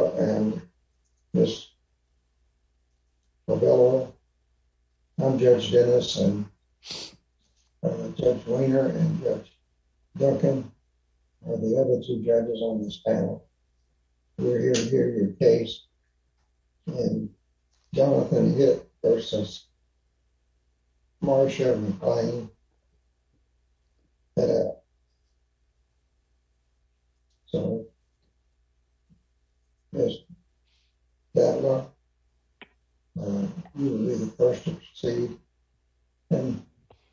I'm Judge Dennis, and Judge Weiner and Judge Duncan are the other two judges on this panel. We're here to hear your case in Jonathan Hitt v. Marsha McLane. So, Mr. Kattler, you will be the first to proceed. And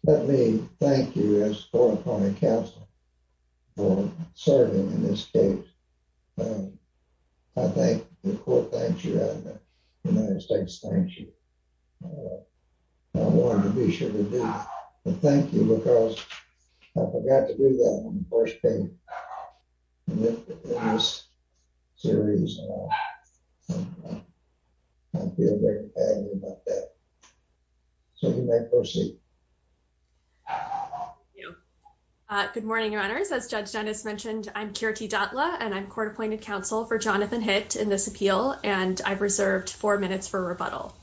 let me thank you as a California counsel for serving in this case. I thank you, the court thanks you, and the United States thanks you. I wanted to be sure to do that. But thank you because I forgot to do that on the first day of this series. I feel very badly about that. So you may proceed. Thank you. Good morning, Your Honors. As Judge Dennis mentioned, I'm Kirti Datla, and I'm court-appointed counsel for Jonathan Hitt in this appeal, and I've reserved four minutes for rebuttal.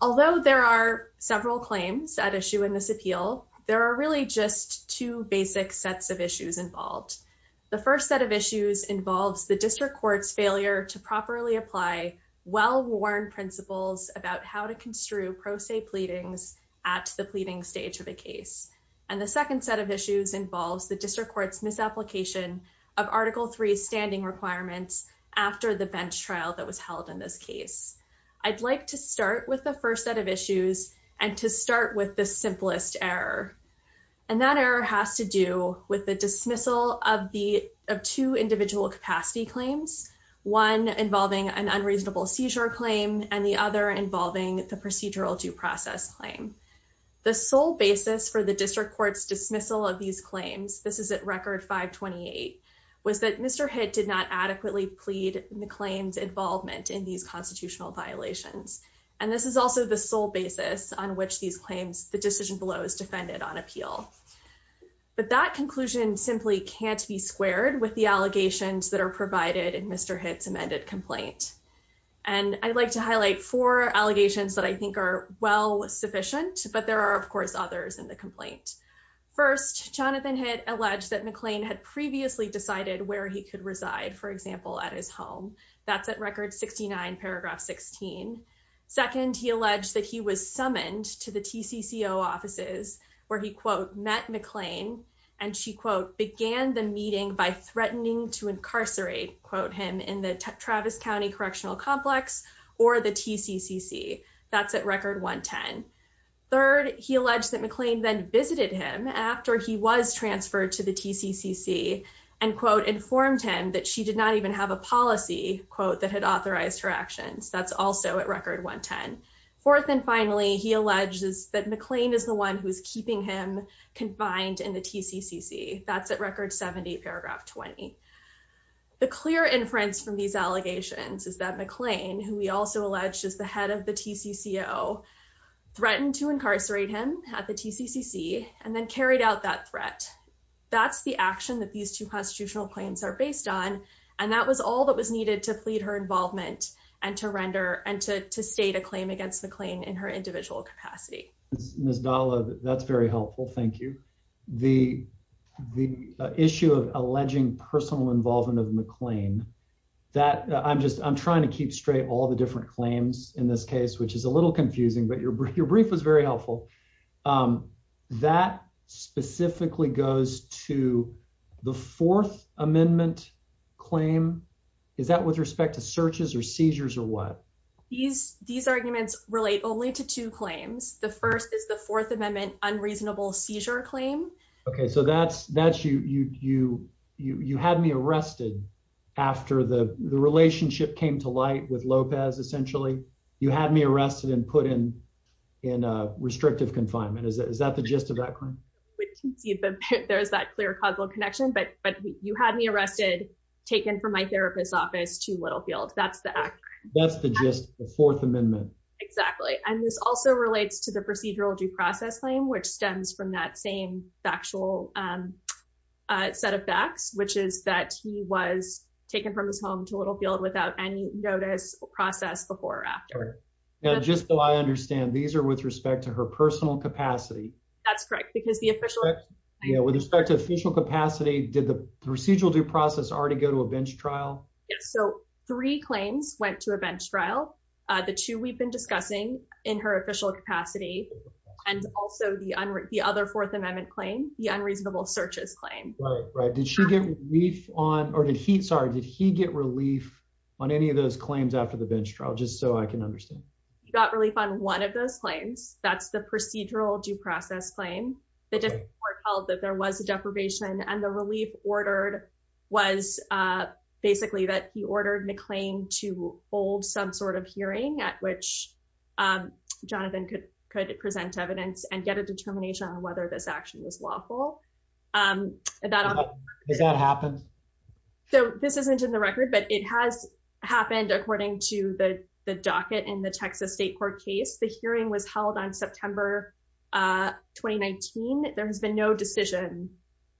Although there are several claims at issue in this appeal, there are really just two basic sets of issues involved. The first set of issues involves the district court's failure to properly apply well-worn principles about how to construe pro se pleadings at the pleading stage of a case. And the second set of issues involves the district court's misapplication of Article III standing requirements after the bench trial that was held in this case. I'd like to start with the first set of issues and to start with the simplest error. And that error has to do with the dismissal of two individual capacity claims, one involving an unreasonable seizure claim and the other involving the procedural due process claim. The sole basis for the district court's dismissal of these claims, this is at Record 528, was that Mr. Hitt did not adequately plead in the claims involvement in these constitutional violations. And this is also the sole basis on which these claims, the decision below, is defended on appeal. But that conclusion simply can't be squared with the allegations that are provided in Mr. Hitt's amended complaint. And I'd like to highlight four allegations that I think are well sufficient, but there are, of course, others in the complaint. First, Jonathan Hitt alleged that McLean had previously decided where he could reside, for example, at his home. That's at Record 69, Paragraph 16. Second, he alleged that he was summoned to the TCCO offices where he, quote, met McLean and she, quote, began the meeting by threatening to incarcerate, quote, him in the Travis County Correctional Complex or the TCCC. That's at Record 110. Third, he alleged that McLean then visited him after he was transferred to the TCCC and, quote, informed him that she did not even have a policy, quote, that had authorized her actions. That's also at Record 110. Fourth and finally, he alleges that McLean is the one who is keeping him confined in the TCCC. That's at Record 70, Paragraph 20. The clear inference from these allegations is that McLean, who we also alleged is the head of the TCCO, threatened to incarcerate him at the TCCC and then carried out that threat. That's the action that these two constitutional claims are based on, and that was all that was needed to plead her involvement and to render and to state a claim against McLean in her individual capacity. Ms. Dahla, that's very helpful. Thank you. The issue of alleging personal involvement of McLean, that I'm just I'm trying to keep straight all the different claims in this case, which is a little confusing, but your brief was very helpful. That specifically goes to the Fourth Amendment claim. Is that with respect to searches or seizures or what? These arguments relate only to two claims. The first is the Fourth Amendment unreasonable seizure claim. Okay, so that's you had me arrested after the relationship came to light with Lopez, essentially. You had me arrested and put in restrictive confinement. Is that the gist of that claim? There's that clear causal connection, but you had me arrested, taken from my therapist's office to Littlefield. That's the act. That's the gist of the Fourth Amendment. Exactly. And this also relates to the procedural due process claim, which stems from that same factual set of facts, which is that he was taken from his home to Littlefield without any notice or process before or after. Just so I understand, these are with respect to her personal capacity. That's correct, because the official. With respect to official capacity, did the procedural due process already go to a bench trial? Yes, so three claims went to a bench trial. The two we've been discussing in her official capacity, and also the other Fourth Amendment claim, the unreasonable searches claim. Right, right. Did she get relief on, or did he, sorry, did he get relief on any of those claims after the bench trial? Just so I can understand. He got relief on one of those claims. That's the procedural due process claim. The court held that there was a deprivation and the relief ordered was basically that he ordered McLean to hold some sort of hearing at which Jonathan could present evidence and get a determination on whether this action was lawful. Has that happened? So this isn't in the record, but it has happened according to the docket in the Texas State Court case. The hearing was held on September 2019. There has been no decision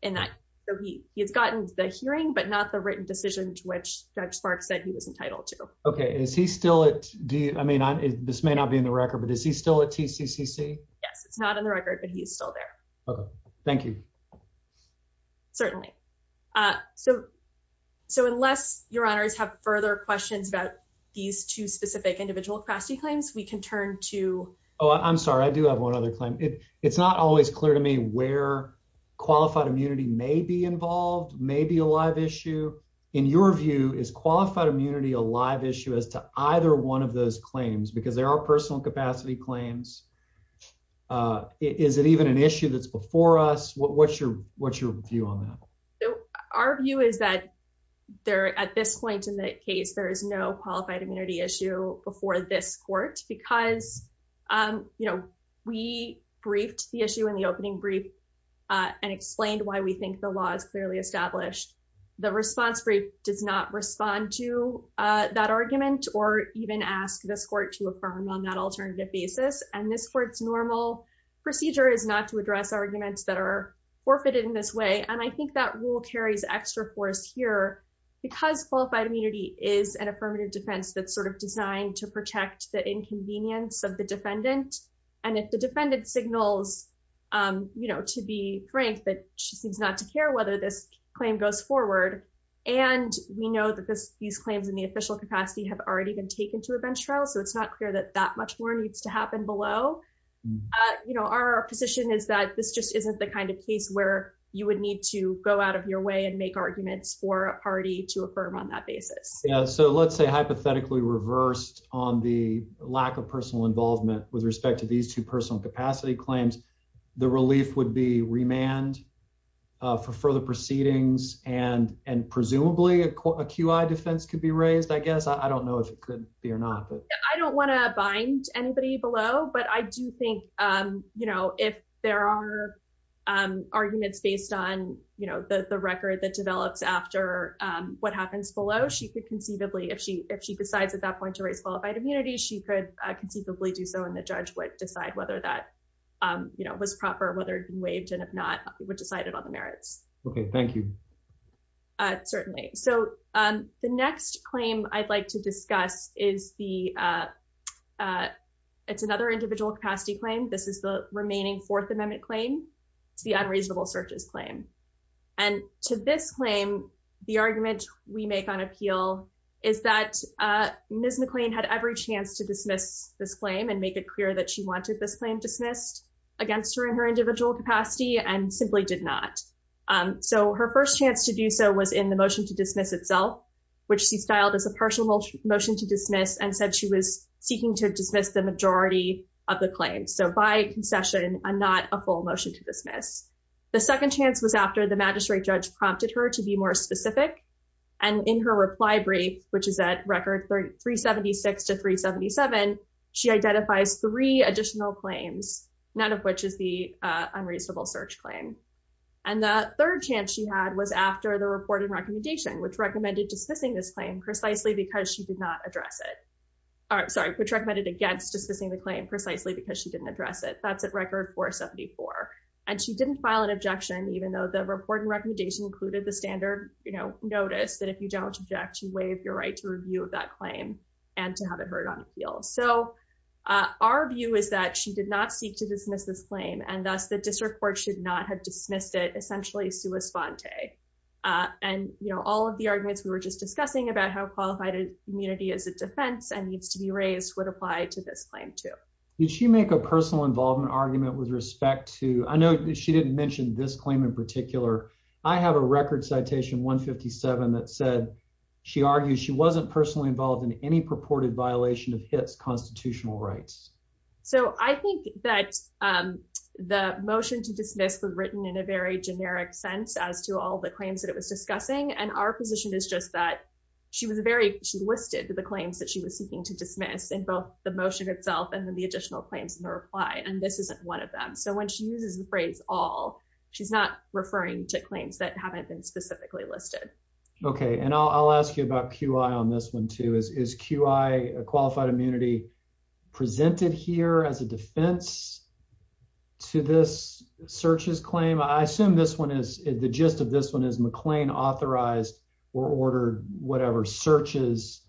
in that. So he has gotten the hearing, but not the written decision to which Judge Sparks said he was entitled to. Okay, is he still at, I mean, this may not be in the record, but is he still at TCCC? Yes, it's not in the record, but he's still there. Okay, thank you. Certainly. So, unless your honors have further questions about these two specific individual capacity claims, we can turn to... Oh, I'm sorry. I do have one other claim. It's not always clear to me where qualified immunity may be involved, may be a live issue. In your view, is qualified immunity a live issue as to either one of those claims? Because there are personal capacity claims. Is it even an issue that's before us? What's your view on that? Our view is that there, at this point in the case, there is no qualified immunity issue before this court because, you know, we briefed the issue in the opening brief and explained why we think the law is clearly established. The response brief does not respond to that argument or even ask this court to affirm on that alternative basis. And this court's normal procedure is not to address arguments that are forfeited in this way. And I think that rule carries extra force here because qualified immunity is an affirmative defense that's sort of designed to protect the inconvenience of the defendant. And if the defendant signals, you know, to be frank, that she seems not to care whether this claim goes forward, and we know that these claims in the official capacity have already been taken to a bench trial, so it's not clear that that much more needs to happen below. You know, our position is that this just isn't the kind of case where you would need to go out of your way and make arguments for a party to affirm on that basis. Yeah, so let's say hypothetically reversed on the lack of personal involvement with respect to these two personal capacity claims, the relief would be remand for further proceedings and presumably a QI defense could be raised, I guess. I don't know if it could be or not. I don't want to bind anybody below, but I do think, you know, if there are arguments based on, you know, the record that develops after what happens below, she could conceivably, if she decides at that point to raise qualified immunity, she could conceivably do so and the judge would decide whether that, you know, was proper, whether he waived and if not, would decide it on the merits. Okay, thank you. Certainly, so the next claim I'd like to discuss is the, it's another individual capacity claim. This is the remaining Fourth Amendment claim. It's the unreasonable searches claim. And to this claim, the argument we make on appeal is that Ms. McLean had every chance to dismiss this claim and make it clear that she wanted this claim dismissed against her in her individual capacity and simply did not. So her first chance to do so was in the motion to dismiss itself, which she styled as a partial motion to dismiss and said she was seeking to dismiss the majority of the claims. So by concession, I'm not a full motion to dismiss. The second chance was after the magistrate judge prompted her to be more specific and in her reply brief, which is at record 376 to 377, she identifies three additional claims, none of which is the unreasonable search claim. And the third chance she had was after the report and recommendation, which recommended dismissing this claim precisely because she did not address it. Sorry, which recommended against dismissing the claim precisely because she didn't address it. That's at record 474. And she didn't file an objection, even though the report and recommendation included the standard, you know, notice that if you don't object, you waive your right to review of that claim and to have it heard on appeal. So our view is that she did not seek to dismiss this claim and thus the district court should not have dismissed it essentially sua sponte. And, you know, all of the arguments we were just discussing about how qualified immunity is a defense and needs to be raised would apply to this claim too. Did she make a personal involvement argument with respect to I know she didn't mention this claim in particular, I have a record citation 157 that said she argued she wasn't personally involved in any purported violation of hits constitutional rights. So I think that the motion to dismiss was written in a very generic sense as to all the claims that it was discussing and our position is just that she was very she listed the claims that she was seeking to dismiss and both the motion itself and then the additional And this isn't one of them. So when she uses the phrase all she's not referring to claims that haven't been specifically listed. Okay, and I'll ask you about qi on this one too is qi qualified immunity presented here as a defense to this searches claim I assume this one is the gist of this one is McLean authorized or ordered whatever searches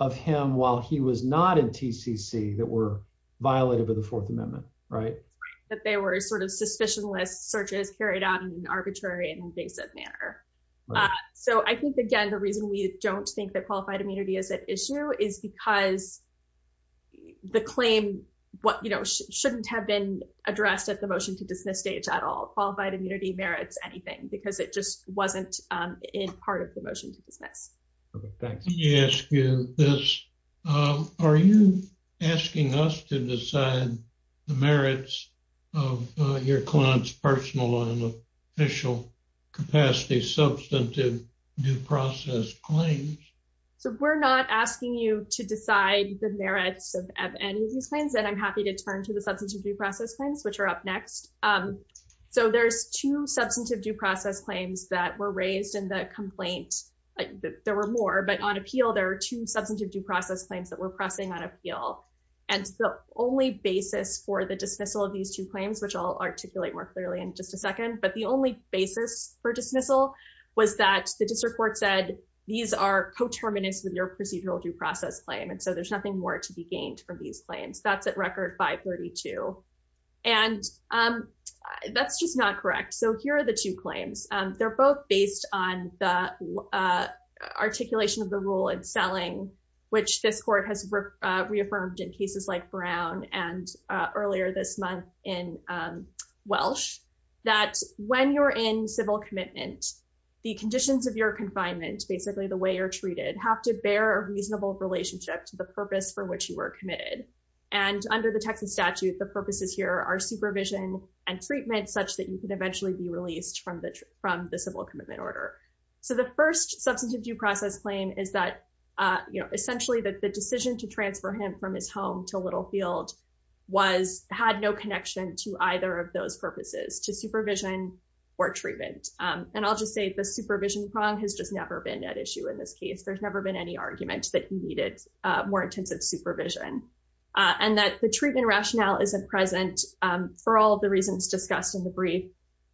of him while he was not in TCC that were violated by the Fourth Amendment. Right. That they were sort of suspicionless searches carried out in an arbitrary and invasive manner. So I think, again, the reason we don't think that qualified immunity is an issue is because the claim, what you know shouldn't have been addressed at the motion to dismiss stage at all qualified immunity merits anything because it just wasn't in part of the motion to dismiss. Yes. Are you asking us to decide the merits of your clients personal and official capacity substantive due process claims. So we're not asking you to decide the merits of any of these claims and I'm happy to turn to the substance of due process claims which are up next. So there's two substantive due process claims that were raised in the complaint. There were more but on appeal. There are two substantive due process claims that we're pressing on appeal. And the only basis for the dismissal of these two claims which I'll articulate more clearly in just a second but the only basis for dismissal was that the district court said, these are co terminus with your procedural due process claim and so there's nothing more to be gained from these claims that's at record 532. And that's just not correct. So here are the two claims. They're both based on the articulation of the rule and selling, which this court has reaffirmed in cases like brown and earlier this month in Welsh, that when you're in civil commitment, the conditions of your confinement basically the way you're treated have to bear reasonable relationship to the purpose for which you were committed. And under the Texas statute the purposes here are supervision and treatment such that you can eventually be released from the, from the civil commitment order. So the first substantive due process claim is that, you know, essentially that the decision to transfer him from his home to Littlefield was had no connection to either of those purposes to supervision or treatment, and I'll just say the supervision prong has just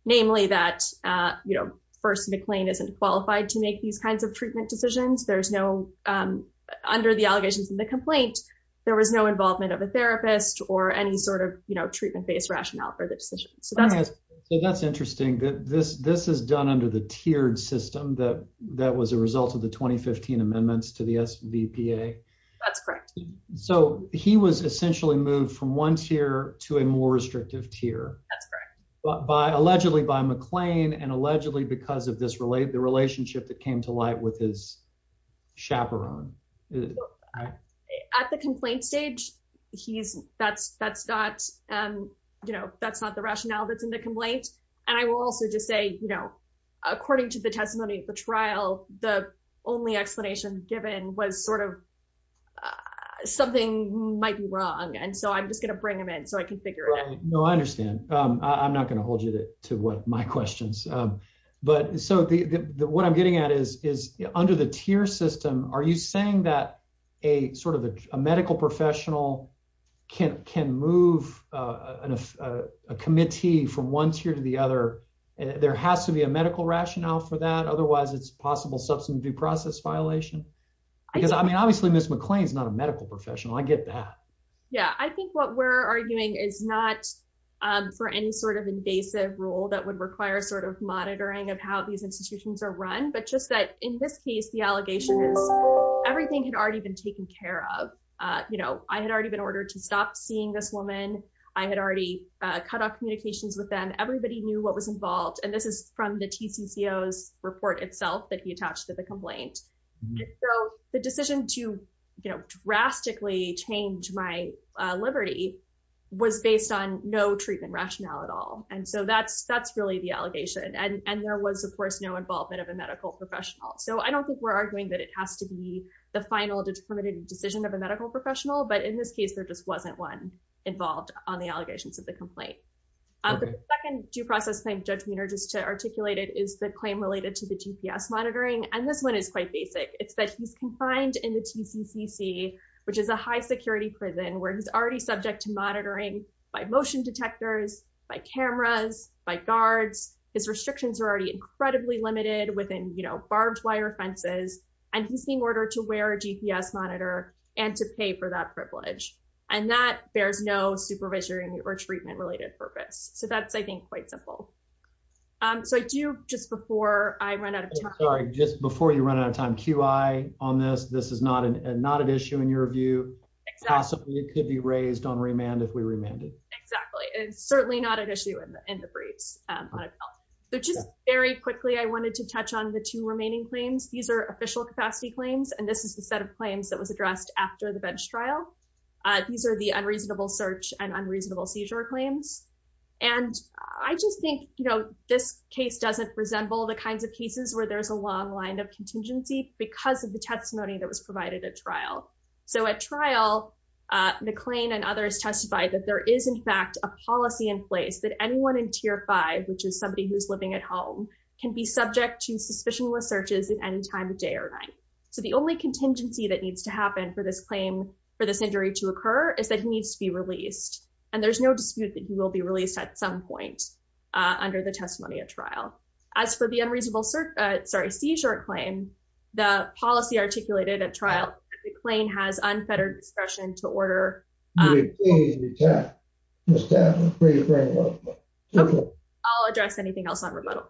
that, you know, first McLean isn't qualified to make these kinds of treatment decisions there's no under the allegations in the complaint. There was no involvement of a therapist or any sort of, you know, treatment based rationale for the decision. So that's, that's interesting that this this is done under the tiered system that that was a result of the 2015 amendments to the SBA. That's correct. So, he was essentially moved from one tier to a more restrictive tier. But by allegedly by McLean and allegedly because of this relate the relationship that came to light with his chaperone. At the complaint stage, he's, that's, that's not, you know, that's not the rationale that's in the complaint. And I will also just say, you know, according to the testimony of the trial, the only explanation given was sort of something might be wrong and so I'm just going to bring them in so I can figure it out. No, I understand. I'm not going to hold you to what my questions. But so the what I'm getting at is, is under the tier system, are you saying that a sort of a medical professional can can move a committee from one tier to the other. There has to be a medical rationale for that otherwise it's possible substance due process violation. Because I mean obviously Miss McLean's not a medical professional I get that. Yeah, I think what we're arguing is not for any sort of invasive rule that would require sort of monitoring of how these institutions are run but just that in this case the allegation is everything had already been taken care of. You know, I had already been ordered to stop seeing this woman. I had already cut off communications with them everybody knew what was involved and this is from the TC CEOs report itself that he attached to the complaint. The decision to, you know, drastically change my liberty was based on no treatment rationale at all. And so that's that's really the allegation and and there was of course no involvement of a medical professional so I don't think we're arguing that it has to be the final determined decision of a medical professional but in this case there just wasn't one involved on the allegations of the complaint of the second due process claim judgment or just to articulate it is the claim related to the GPS monitoring and this one is quite basic, it's that he's confined in the TCCC, which is a high security prison where he's already subject to monitoring by motion detectors by cameras by guards, his restrictions are already incredibly limited within you know barbed wire fences, and he's on this this is not an issue in your view. Possibly it could be raised on remand if we remanded. Exactly. It's certainly not an issue in the briefs. So just very quickly I wanted to touch on the two remaining claims. These are official capacity claims and this is the set of claims that was addressed after the bench trial. These are the unreasonable search and unreasonable seizure claims. And I just think, you know, this case doesn't resemble the kinds of cases where there's a long line of contingency, because of the testimony that was provided at trial. So at trial McLean and others testified that there is in fact a policy in place that anyone in tier five, which is somebody who's living at home can be subject to suspicion with searches at any time of day or night. So the only contingency that needs to happen for this claim for this injury to occur is that he needs to be released, and there's no dispute that you will be released at some point under the testimony at trial. As for the unreasonable search, sorry seizure claim, the policy articulated at trial, the claim has unfettered discretion to order. Okay, I'll address anything else on remote.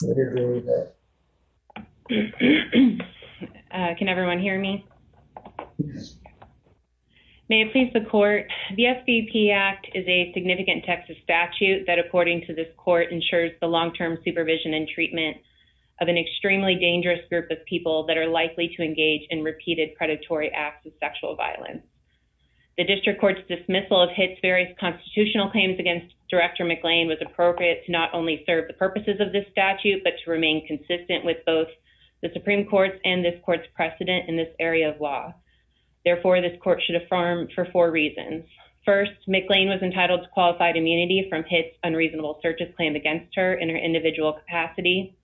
Can everyone hear me. May it please the court. The FPP act is a significant Texas statute that according to this court ensures the long term supervision and treatment of an extremely dangerous group of people that are likely to engage in repeated predatory acts of sexual violence. The district courts dismissal of hits various constitutional claims against director McLean was appropriate to not only serve the purposes of this statute but to remain consistent with both the Supreme Court and this court's precedent in this area of law. Therefore, this court should affirm for four reasons. First, McLean was entitled to qualified immunity from hits unreasonable searches claim against her in her individual capacity.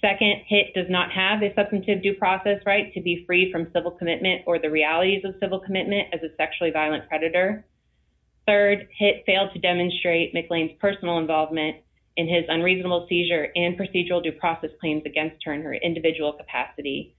Second hit does not have a substantive due process right to be free from civil commitment or the realities of civil commitment as a sexually violent predator. Third hit failed to demonstrate McLean's personal involvement in his unreasonable seizure and procedural due process claims against her in her individual capacity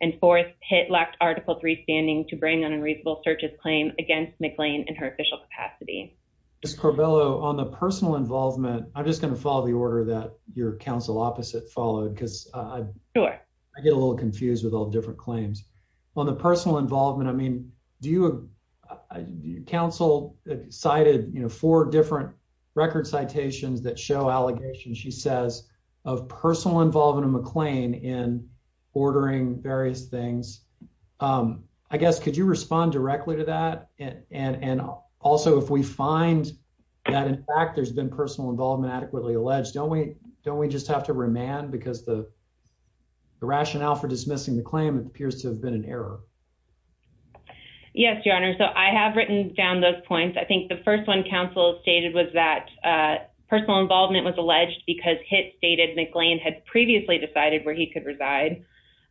and fourth hit lacked article three standing to bring an unreasonable searches claim against McLean and her official capacity. Corbello on the personal involvement. I'm just going to follow the order that your counsel opposite followed because I get a little confused with all different claims on the personal involvement. I mean, do you Council cited, you know, four different record citations that show allegations. She says of personal involvement in McLean in ordering various things. I guess. Could you respond directly to that and and and also if we find that in fact there's been personal involvement adequately alleged don't we don't we just have to remand because the Rationale for dismissing the claim. It appears to have been an error. Yes, Your Honor. So I have written down those points. I think the first one Council stated was that personal involvement was alleged because hit stated McLean had previously decided where he could reside.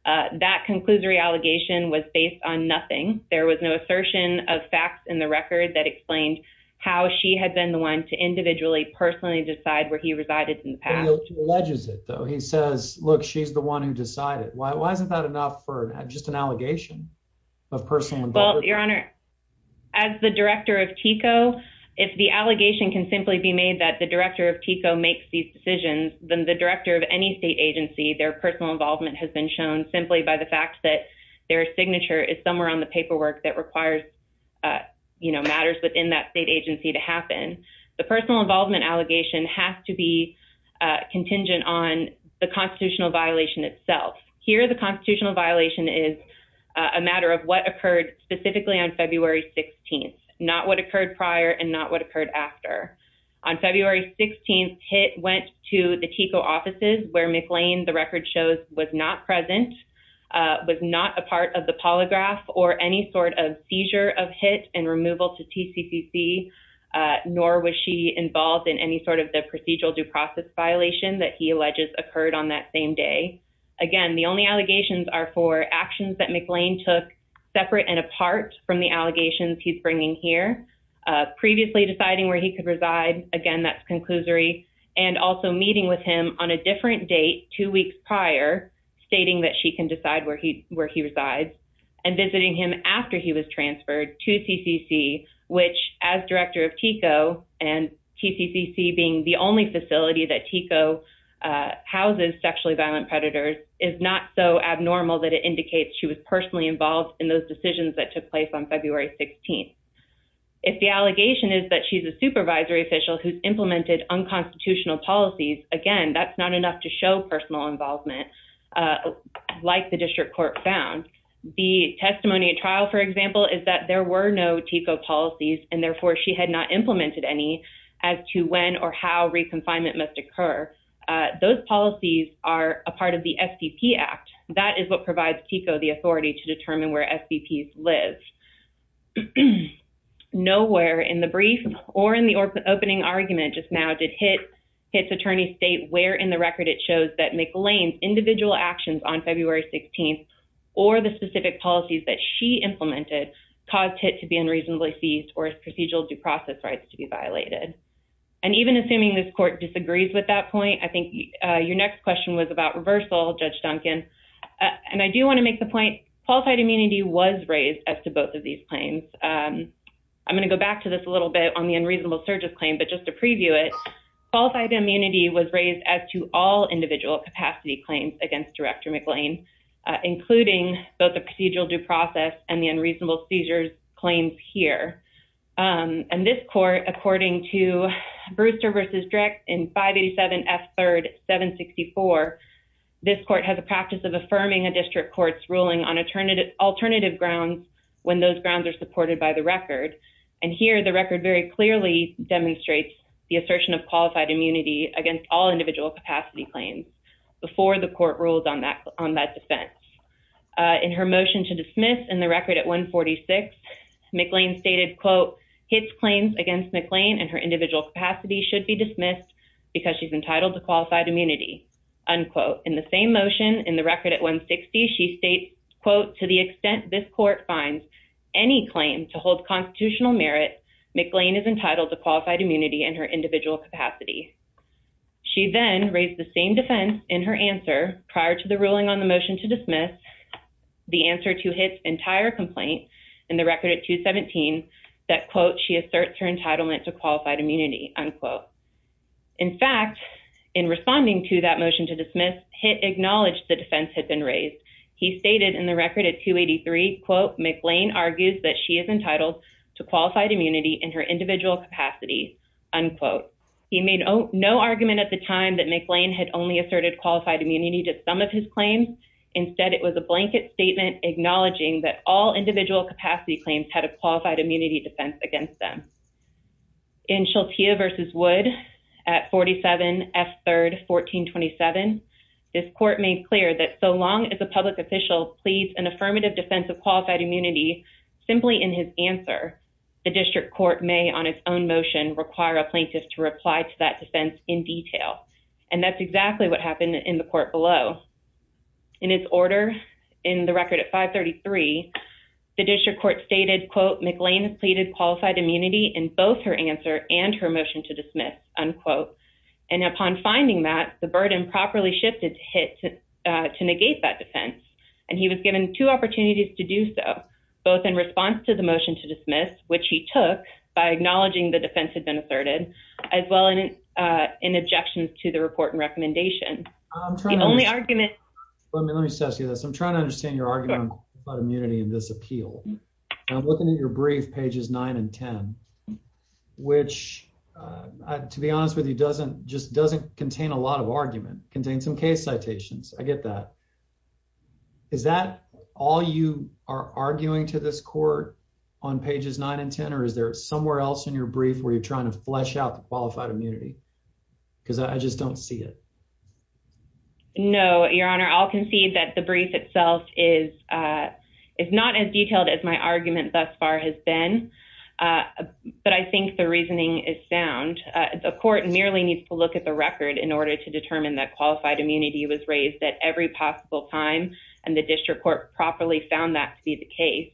That concludes reallocation was based on nothing. There was no assertion of facts in the record that explained how she had been the one to individually personally decide where he resided in the past. He says, Look, she's the one who decided why wasn't that enough for just an allegation of personal. Well, Your Honor. As the director of Chico. If the allegation can simply be made that the director of Chico makes these decisions than the director of any state agency their personal involvement has been shown simply by the fact that Their signature is somewhere on the paperwork that requires You know matters within that state agency to happen. The personal involvement allegation has to be Contingent on the constitutional violation itself here. The constitutional violation is a matter of what occurred specifically on February 16 not what occurred prior and not what occurred after On February 16 hit went to the Chico offices where McLean the record shows was not present was not a part of the polygraph or any sort of seizure of hit and removal to TCCC Nor was she involved in any sort of the procedural due process violation that he alleges occurred on that same day. Again, the only allegations are for actions that McLean took separate and apart from the allegations. He's bringing here. Previously deciding where he could reside. Again, that's conclusory and also meeting with him on a different date two weeks prior stating that she can decide where he where he resides. And visiting him after he was transferred to TCC, which as director of Chico and TCCC being the only facility that Chico Houses sexually violent predators is not so abnormal that it indicates she was personally involved in those decisions that took place on February 16 If the allegation is that she's a supervisory official who's implemented unconstitutional policies. Again, that's not enough to show personal involvement. Like the district court found the testimony at trial, for example, is that there were no Tico policies and therefore she had not implemented any As to when or how reconfinement must occur those policies are a part of the FTP act that is what provides Tico the authority to determine where FTP live Nowhere in the brief or in the opening argument just now did Hitt's attorney state where in the record it shows that McLean's individual actions on February 16 Or the specific policies that she implemented caused Hitt to be unreasonably seized or procedural due process rights to be violated. And even assuming this court disagrees with that point. I think your next question was about reversal Judge Duncan. And I do want to make the point qualified immunity was raised as to both of these claims. I'm going to go back to this a little bit on the unreasonable searches claim, but just to preview it. Qualified immunity was raised as to all individual capacity claims against Director McLean, including both the procedural due process and the unreasonable seizures claims here. And this court, according to Brewster vs. Drick in 587 F3 764 This court has a practice of affirming a district courts ruling on alternative alternative grounds when those grounds are supported by the record. And here the record very clearly demonstrates the assertion of qualified immunity against all individual capacity claims before the court rules on that on that defense. In her motion to dismiss and the record at 146 McLean stated, quote, hits claims against McLean and her individual capacity should be dismissed. Because she's entitled to qualified immunity unquote in the same motion in the record at 160 she states, quote, to the extent this court finds Any claim to hold constitutional merit McLean is entitled to qualified immunity and her individual capacity. She then raised the same defense in her answer prior to the ruling on the motion to dismiss. The answer to his entire complaint in the record at 217 that, quote, she asserts her entitlement to qualified immunity, unquote. In fact, in responding to that motion to dismiss hit acknowledge the defense had been raised. He stated in the record at 283, quote, McLean argues that she is entitled to qualified immunity in her individual capacity, unquote. He made no argument at the time that McLean had only asserted qualified immunity to some of his claims. Instead, it was a blanket statement acknowledging that all individual capacity claims had a qualified immunity defense against them. In Sheltia versus Wood at 47 F third 1427 this court made clear that so long as a public official please an affirmative defensive qualified immunity. Simply in his answer the district court may on its own motion require a plaintiff to reply to that defense in detail. And that's exactly what happened in the court below. In his order in the record at 533 the district court stated, quote, McLean pleaded qualified immunity in both her answer and her motion to dismiss, unquote. And upon finding that the burden properly shifted to hit to negate that defense and he was given two opportunities to do so. Both in response to the motion to dismiss, which he took by acknowledging the defense had been asserted as well in in objections to the report and recommendation. The only argument. Let me let me say this. I'm trying to understand your argument about immunity in this appeal. I'm looking at your brief pages nine and 10 which, to be honest with you, doesn't just doesn't contain a lot of argument contain some case citations. I get that. Is that all you are arguing to this court on pages nine and 10 or is there somewhere else in your brief where you're trying to flesh out the qualified immunity. Because I just don't see it. No, Your Honor. I'll concede that the brief itself is is not as detailed as my argument thus far has been But I think the reasoning is sound the court nearly needs to look at the record in order to determine that qualified immunity was raised that every possible time and the district court properly found that to be the case.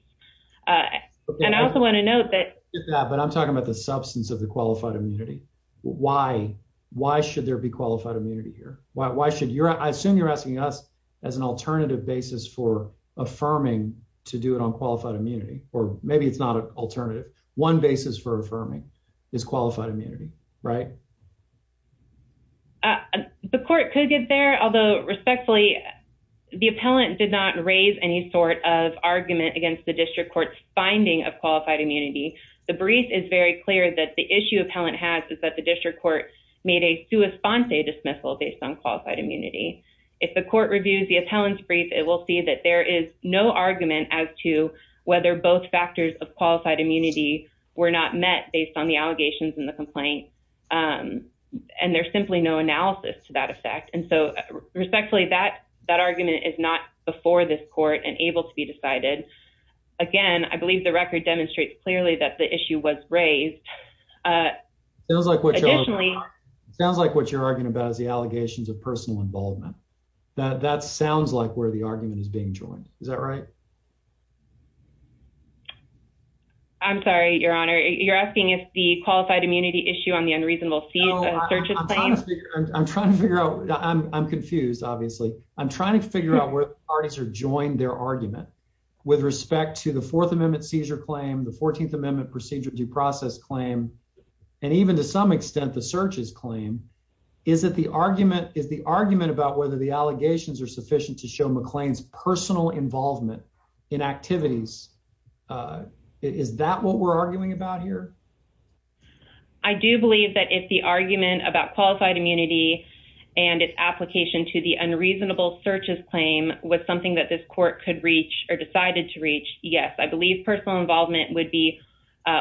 And I also want to note that But I'm talking about the substance of the qualified immunity. Why, why should there be qualified immunity here. Why, why should your I assume you're asking us as an alternative basis for affirming to do it on qualified immunity or maybe it's not an alternative one basis for affirming is qualified immunity. Right. The court could get there, although respectfully the appellant did not raise any sort of argument against the district courts finding of qualified immunity. The brief is very clear that the issue of talent has is that the district court made a response a dismissal based on qualified immunity. If the court reviews the appellant's brief, it will see that there is no argument as to whether both factors of qualified immunity were not met based on the allegations in the complaint. And there's simply no analysis to that effect. And so respectfully that that argument is not before this court and able to be decided. Again, I believe the record demonstrates clearly that the issue was raised. It was like what Sounds like what you're arguing about is the allegations of personal involvement that that sounds like where the argument is being joined. Is that right. I'm sorry, Your Honor. You're asking if the qualified immunity issue on the unreasonable. I'm trying to figure out. I'm confused. Obviously, I'm trying to figure out where parties are joined their argument. With respect to the Fourth Amendment seizure claim the 14th Amendment procedure due process claim and even to some extent, the searches claim. Is that the argument is the argument about whether the allegations are sufficient to show McLean's personal involvement in activities. Is that what we're arguing about here. I do believe that if the argument about qualified immunity and its application to the unreasonable searches claim with something that this court could reach or decided to reach. Yes, I believe personal involvement would be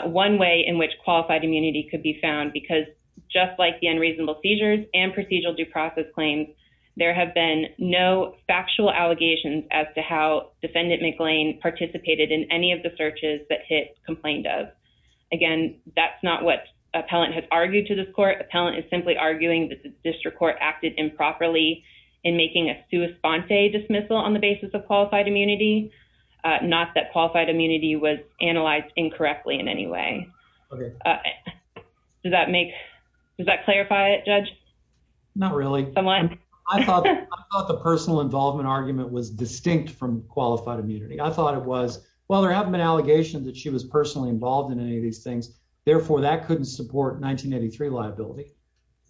One way in which qualified immunity could be found because just like the unreasonable seizures and procedural due process claims. There have been no factual allegations as to how defendant McLean participated in any of the searches that hit complained of Again, that's not what appellant has argued to this court appellant is simply arguing that the district court acted improperly in making a response a dismissal on the basis of qualified immunity, not that qualified immunity was analyzed incorrectly in any way. Does that make that clarify it judge Not really. I thought the personal involvement argument was distinct from qualified immunity. I thought it was. Well, there have been allegations that she was personally involved in any of these things. Therefore, that couldn't support 1983 liability.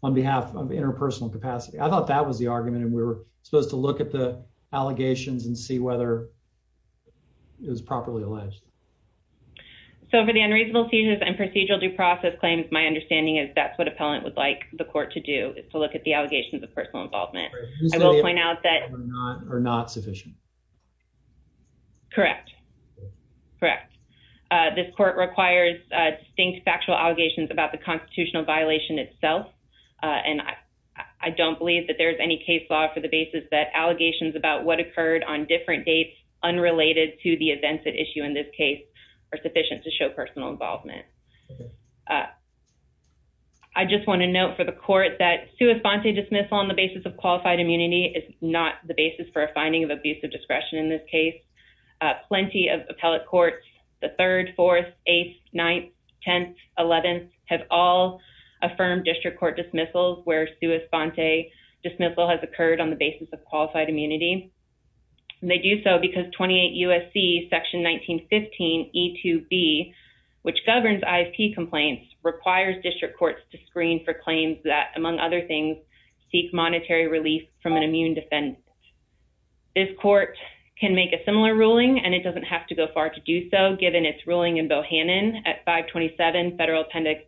On behalf of interpersonal capacity. I thought that was the argument. And we're supposed to look at the allegations and see whether It was properly alleged So for the unreasonable seizures and procedural due process claims. My understanding is that's what appellant would like the court to do is to look at the allegations of personal involvement. I will point out that Are not sufficient Correct. Correct. This court requires distinct factual allegations about the constitutional violation itself. And I don't believe that there's any case law for the basis that allegations about what occurred on different dates unrelated to the events that issue in this case are sufficient to show personal involvement. I just want to note for the court that to respond to dismissal on the basis of qualified immunity is not the basis for a finding of abusive discretion in this case. Plenty of appellate courts, the third, fourth, eighth, ninth, 10th, 11th have all affirmed district court dismissals where to respond to a dismissal has occurred on the basis of qualified immunity. They do so because 28 USC section 1915 E2B which governs ISP complaints requires district courts to screen for claims that, among other things, seek monetary relief from an immune defense. This court can make a similar ruling and it doesn't have to go far to do so, given its ruling in Bohannon at 527 Federal Appendix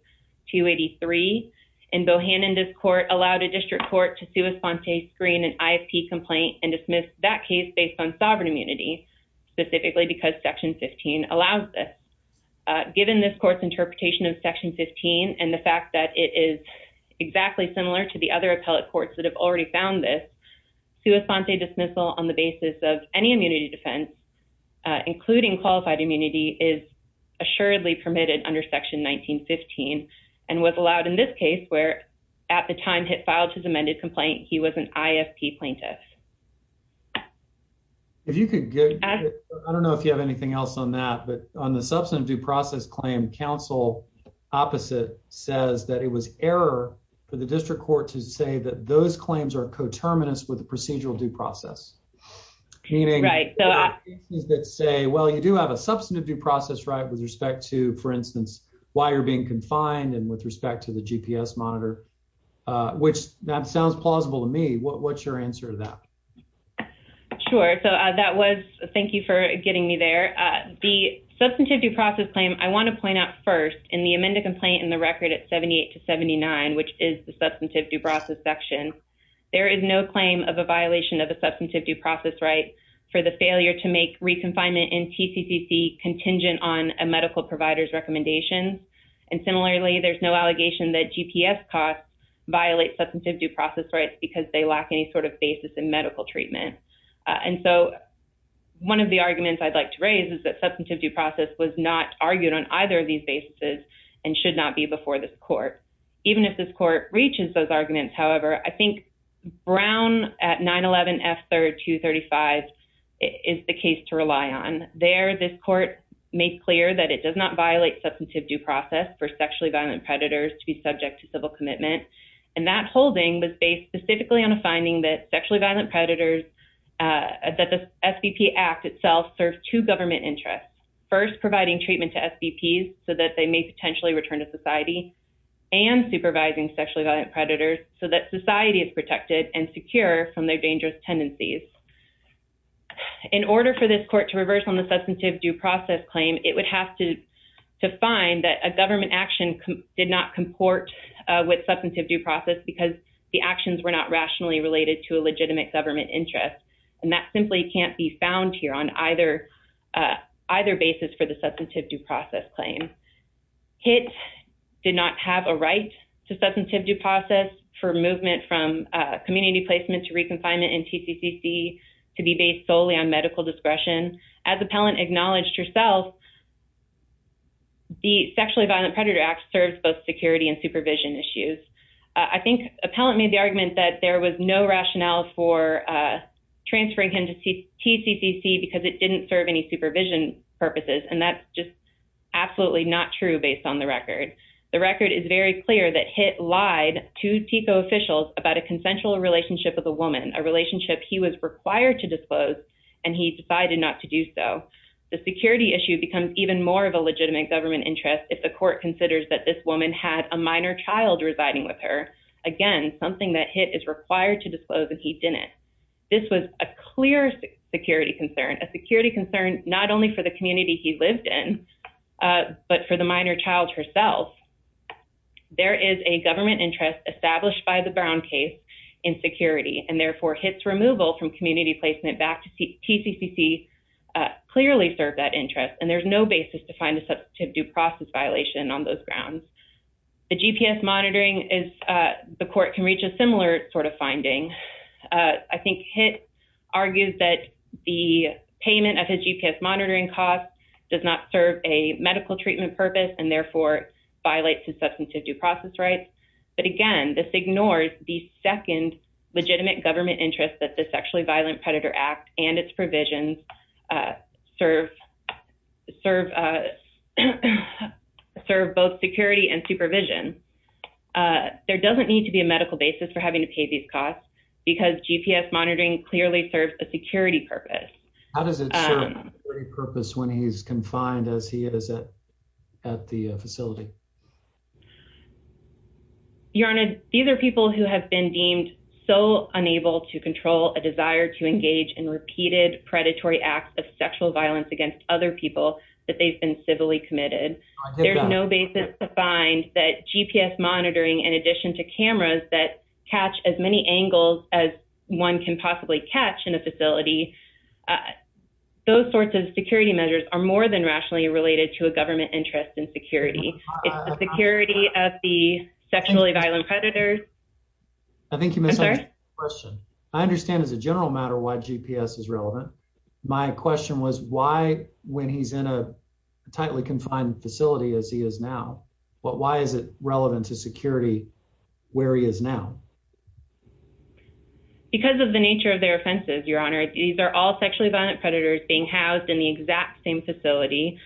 283 In Bohannon, this court allowed a district court to sui fonte screen an ISP complaint and dismiss that case based on sovereign immunity, specifically because section 15 allows this Given this court's interpretation of section 15 and the fact that it is exactly similar to the other appellate courts that have already found this Sui fonte dismissal on the basis of any immunity defense, including qualified immunity is assuredly permitted under section 1915 and was allowed in this case where at the time it filed his amended complaint. He was an ISP plaintiff. If you could, I don't know if you have anything else on that, but on the substantive due process claim counsel opposite says that it was error for the district court to say that those claims are coterminous with the procedural due process. Meaning that say, well, you do have a substantive due process right with respect to, for instance, why you're being confined and with respect to the GPS monitor, which that sounds plausible to me. What's your answer to that. Sure. So that was thank you for getting me there. The substantive due process claim. I want to point out first in the amended complaint in the record at 78 to 79 which is the substantive due process section. There is no claim of a violation of the substantive due process right for the failure to make reconfinement in TCCC contingent on a medical providers recommendations. And similarly, there's no allegation that GPS costs violate substantive due process rights because they lack any sort of basis in medical treatment. And so one of the arguments I'd like to raise is that substantive due process was not argued on either of these bases and should not be before this court. Even if this court reaches those arguments. However, I think brown at 911 F third to 35 is the case to rely on there. This court. Make clear that it does not violate substantive due process for sexually violent predators to be subject to civil commitment and that holding was based specifically on a finding that sexually violent predators. That the FTP act itself serves to government interest first providing treatment to FTP so that they may potentially return to society and supervising sexually violent predators so that society is protected and secure from their dangerous tendencies. In order for this court to reverse on the substantive due process claim, it would have to find that a government action did not comport with substantive due process because the actions were not rationally related to a legitimate government interest. And that simply can't be found here on either basis for the substantive due process claim. It did not have a right to substantive due process for movement from community placement to reconfine it in TCCC to be based solely on medical discretion as appellant acknowledged yourself. The sexually violent predator act serves both security and supervision issues. I think appellant made the argument that there was no rationale for Transferring him to TCCC because it didn't serve any supervision purposes and that's just absolutely not true based on the record. The record is very clear that HIT lied to TICO officials about a consensual relationship with a woman, a relationship he was required to disclose and he decided not to do so. The security issue becomes even more of a legitimate government interest if the court considers that this woman had a minor child residing with her. Again, something that HIT is required to disclose and he didn't. This was a clear security concern, a security concern, not only for the community he lived in, but for the minor child herself. There is a government interest established by the Brown case in security and therefore HIT's removal from community placement back to TCCC Clearly served that interest and there's no basis to find a substantive due process violation on those grounds. The GPS monitoring is the court can reach a similar sort of finding. I think HIT argues that the payment of his GPS monitoring costs does not serve a medical treatment purpose and therefore violates his substantive due process rights. But again, this ignores the second legitimate government interest that the Sexually Violent Predator Act and its provisions serve both security and supervision. There doesn't need to be a medical basis for having to pay these costs because GPS monitoring clearly serves a security purpose. How does it serve a security purpose when he's confined as he is at the facility? Your Honor, these are people who have been deemed so unable to control a desire to engage in repeated predatory acts of sexual violence against other people that they've been civilly committed. There's no basis to find that GPS monitoring in addition to cameras that catch as many angles as one can possibly catch in a facility. Those sorts of security measures are more than rationally related to a government interest in security. It's the security of the sexually violent predators. I think you missed a question. I understand as a general matter why GPS is relevant. My question was why when he's in a tightly confined facility as he is now, why is it relevant to security where he is now? Because of the nature of their offenses, Your Honor. These are all sexually violent predators being housed in the exact same facility,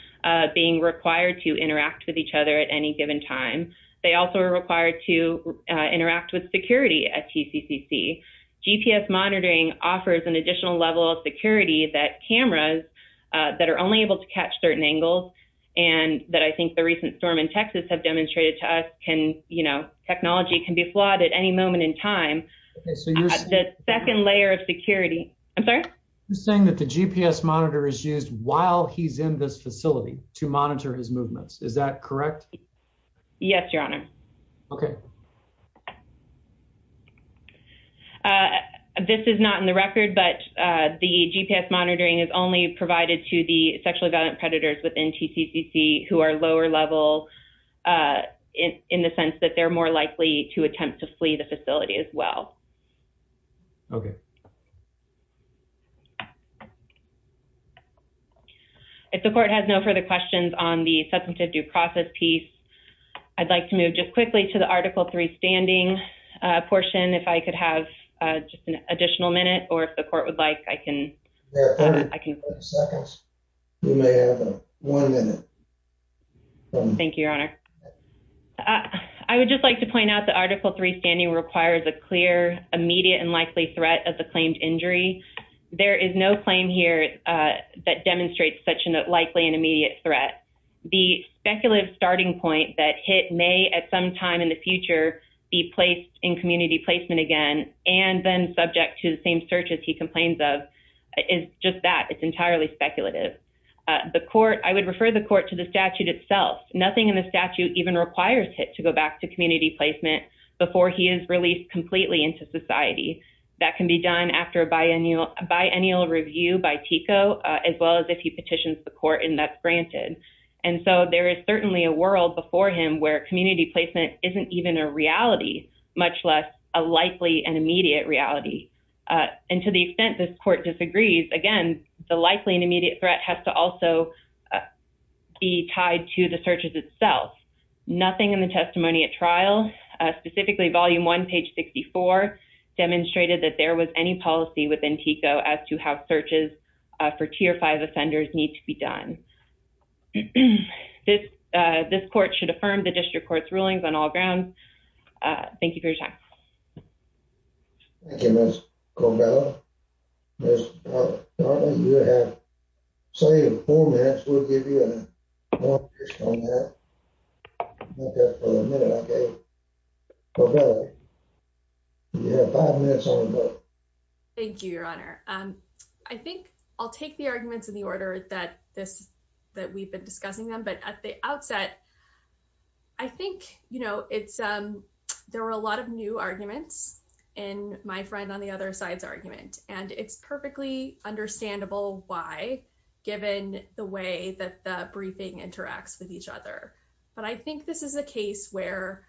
being required to interact with each other at any given time. They also are required to interact with security at TCCC. GPS monitoring offers an additional level of security that cameras that are only able to catch certain angles and that I think the recent storm in Texas have demonstrated to us can, you know, technology can be flawed at any moment in time. The second layer of security. I'm sorry? You're saying that the GPS monitor is used while he's in this facility to monitor his movements. Is that correct? Yes, Your Honor. Okay. This is not in the record, but the GPS monitoring is only provided to the sexually violent predators within TCCC who are lower level in the sense that they're more likely to attempt to flee the facility as well. Okay. If the court has no further questions on the substantive due process piece, I'd like to move just quickly to the article three standing portion. If I could have just an additional minute or if the court would like, I can. I can. One minute. Thank you, Your Honor. I would just like to point out the article three standing requires a clear, immediate, and likely threat of the claimed injury. There is no claim here that demonstrates such a likely and immediate threat. The speculative starting point that Hitt may at some time in the future be placed in community placement again and then subject to the same searches he complains of is just that. It's entirely speculative. The court, I would refer the court to the statute itself. Nothing in the statute even requires Hitt to go back to community placement before he is released completely into society. That can be done after a biennial review by TICO as well as if he petitions the court and that's granted. And so there is certainly a world before him where community placement isn't even a reality, much less a likely and immediate reality. And to the extent this court disagrees, again, the likely and immediate threat has to also be tied to the searches itself. Nothing in the testimony at trial, specifically volume one, page 64, demonstrated that there was any policy within TICO as to how searches for tier five offenders need to be done. This court should affirm the district court's rulings on all grounds. Thank you for your time. Thank you, Ms. Corbella. Ms. Darnley, you have three or four minutes. We'll give you a confirmation on that. Not just for the minute, okay? Corbella, you have five minutes on the book. Thank you, Your Honor. I think I'll take the arguments in the order that we've been discussing them. But at the outset, I think there were a lot of new arguments in my friend on the other side's argument. And it's perfectly understandable why, given the way that the briefing interacts with each other. But I think this is a case where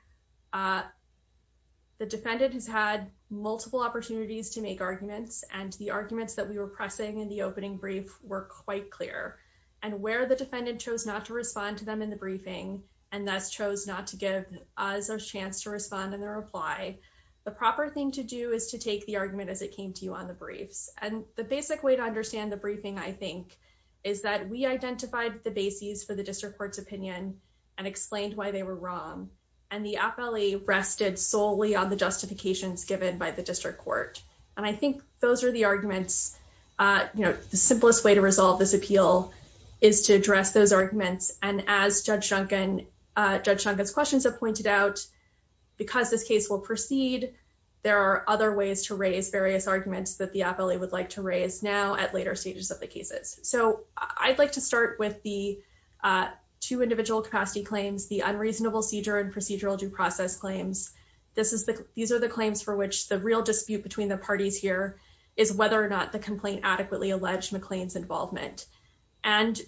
the defendant has had multiple opportunities to make arguments and the arguments that we were pressing in the opening brief were quite clear. And where the defendant chose not to respond to them in the briefing and thus chose not to give us a chance to respond in their reply, the proper thing to do is to take the argument as it came to you on the briefs. And the basic way to understand the briefing, I think, is that we identified the bases for the district court's opinion and explained why they were wrong. And the appellee rested solely on the justifications given by the district court. And I think those are the arguments, you know, the simplest way to resolve this appeal is to address those arguments. And as Judge Shunkin's questions have pointed out, because this case will proceed, there are other ways to raise various arguments that the appellee would like to raise now at later stages of the cases. So I'd like to start with the two individual capacity claims, the unreasonable seizure and procedural due process claims. These are the claims for which the real dispute between the parties here is whether or not the complaint adequately alleged McLean's involvement. And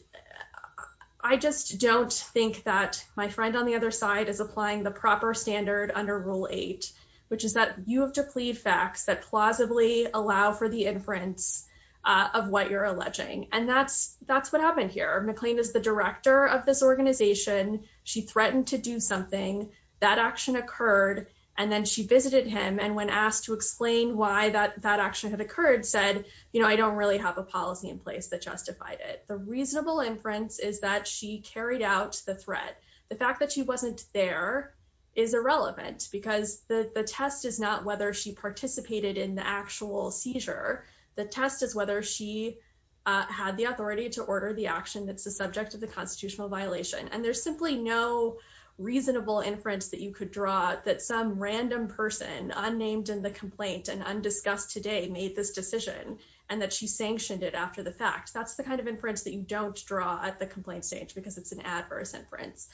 I just don't think that my friend on the other side is applying the proper standard under Rule 8, which is that you have to plead facts that plausibly allow for the inference of what you're alleging. And that's what happened here. McLean is the director of this organization. She threatened to do something. That action occurred. And then she visited him and when asked to explain why that action had occurred, said, you know, I don't really have a policy in place that justified it. The reasonable inference is that she carried out the threat. The fact that she wasn't there is irrelevant because the test is not whether she participated in the actual seizure. The test is whether she had the authority to order the action that's the subject of the constitutional violation. There's simply no reasonable inference that you could draw that some random person unnamed in the complaint and undiscussed today made this decision and that she sanctioned it after the fact. That's the kind of inference that you don't draw at the complaint stage because it's an adverse inference.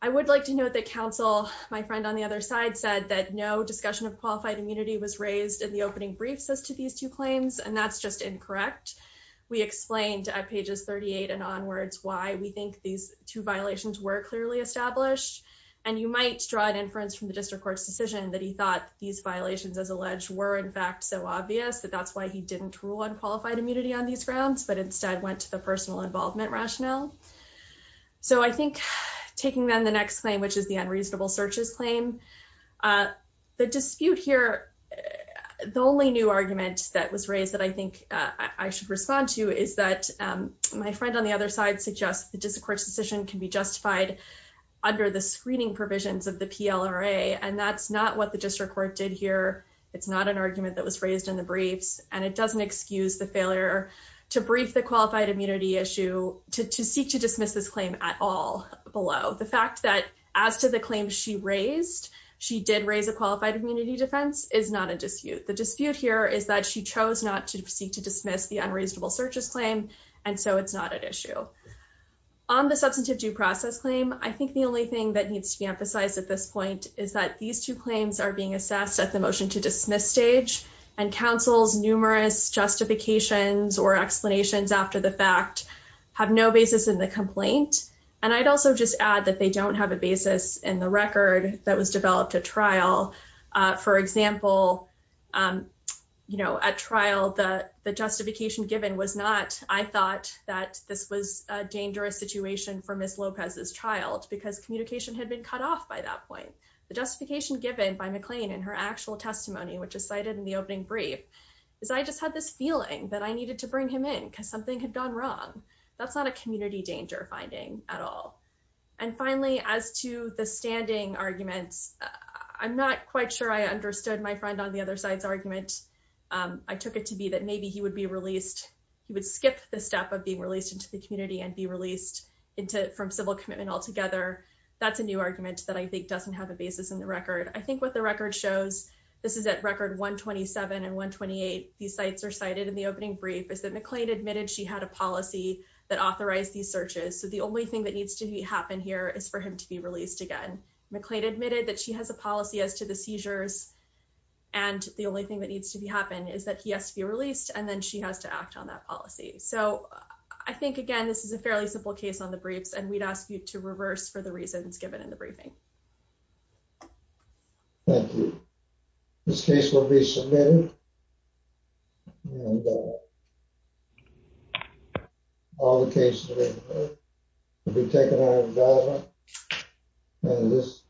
I would like to note that counsel, my friend on the other side, said that no discussion of qualified immunity was raised in the opening briefs as to these two claims, and that's just incorrect. We explained at pages 38 and onwards why we think these two violations were clearly established. And you might draw an inference from the district court's decision that he thought these violations, as alleged, were in fact so obvious that that's why he didn't rule on qualified immunity on these grounds, but instead went to the personal involvement rationale. So I think taking them the next claim, which is the unreasonable searches claim, the dispute here. The only new argument that was raised that I think I should respond to is that my friend on the other side suggests the district court's decision can be justified under the screening provisions of the PLRA, and that's not what the district court did here. It's not an argument that was raised in the briefs, and it doesn't excuse the failure to brief the qualified immunity issue to seek to dismiss this claim at all below. The fact that as to the claim she raised, she did raise a qualified immunity defense, is not a dispute. The dispute here is that she chose not to seek to dismiss the unreasonable searches claim, and so it's not an issue. On the substantive due process claim, I think the only thing that needs to be emphasized at this point is that these two claims are being assessed at the motion to dismiss stage, and counsel's numerous justifications or explanations after the fact have no basis in the complaint. And I'd also just add that they don't have a basis in the record that was developed at trial. For example, at trial, the justification given was not, I thought that this was a dangerous situation for Ms. Lopez's child because communication had been cut off by that point. The justification given by McLean in her actual testimony, which is cited in the opening brief, is I just had this feeling that I needed to bring him in because something had gone wrong. That's not a community danger finding at all. And finally, as to the standing arguments, I'm not quite sure I understood my friend on the other side's argument. I took it to be that maybe he would be released, he would skip the step of being released into the community and be released from civil commitment altogether. That's a new argument that I think doesn't have a basis in the record. I think what the record shows, this is at record 127 and 128, these sites are cited in the opening brief, is that McLean admitted she had a policy that authorized these searches. So the only thing that needs to happen here is for him to be released again. McLean admitted that she has a policy as to the seizures, and the only thing that needs to happen is that he has to be released, and then she has to act on that policy. So I think, again, this is a fairly simple case on the briefs, and we'd ask you to reverse for the reasons given in the briefing. Thank you. This case will be submitted, and all the cases will be taken out of government, and this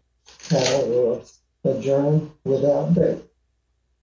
panel will adjourn without bail.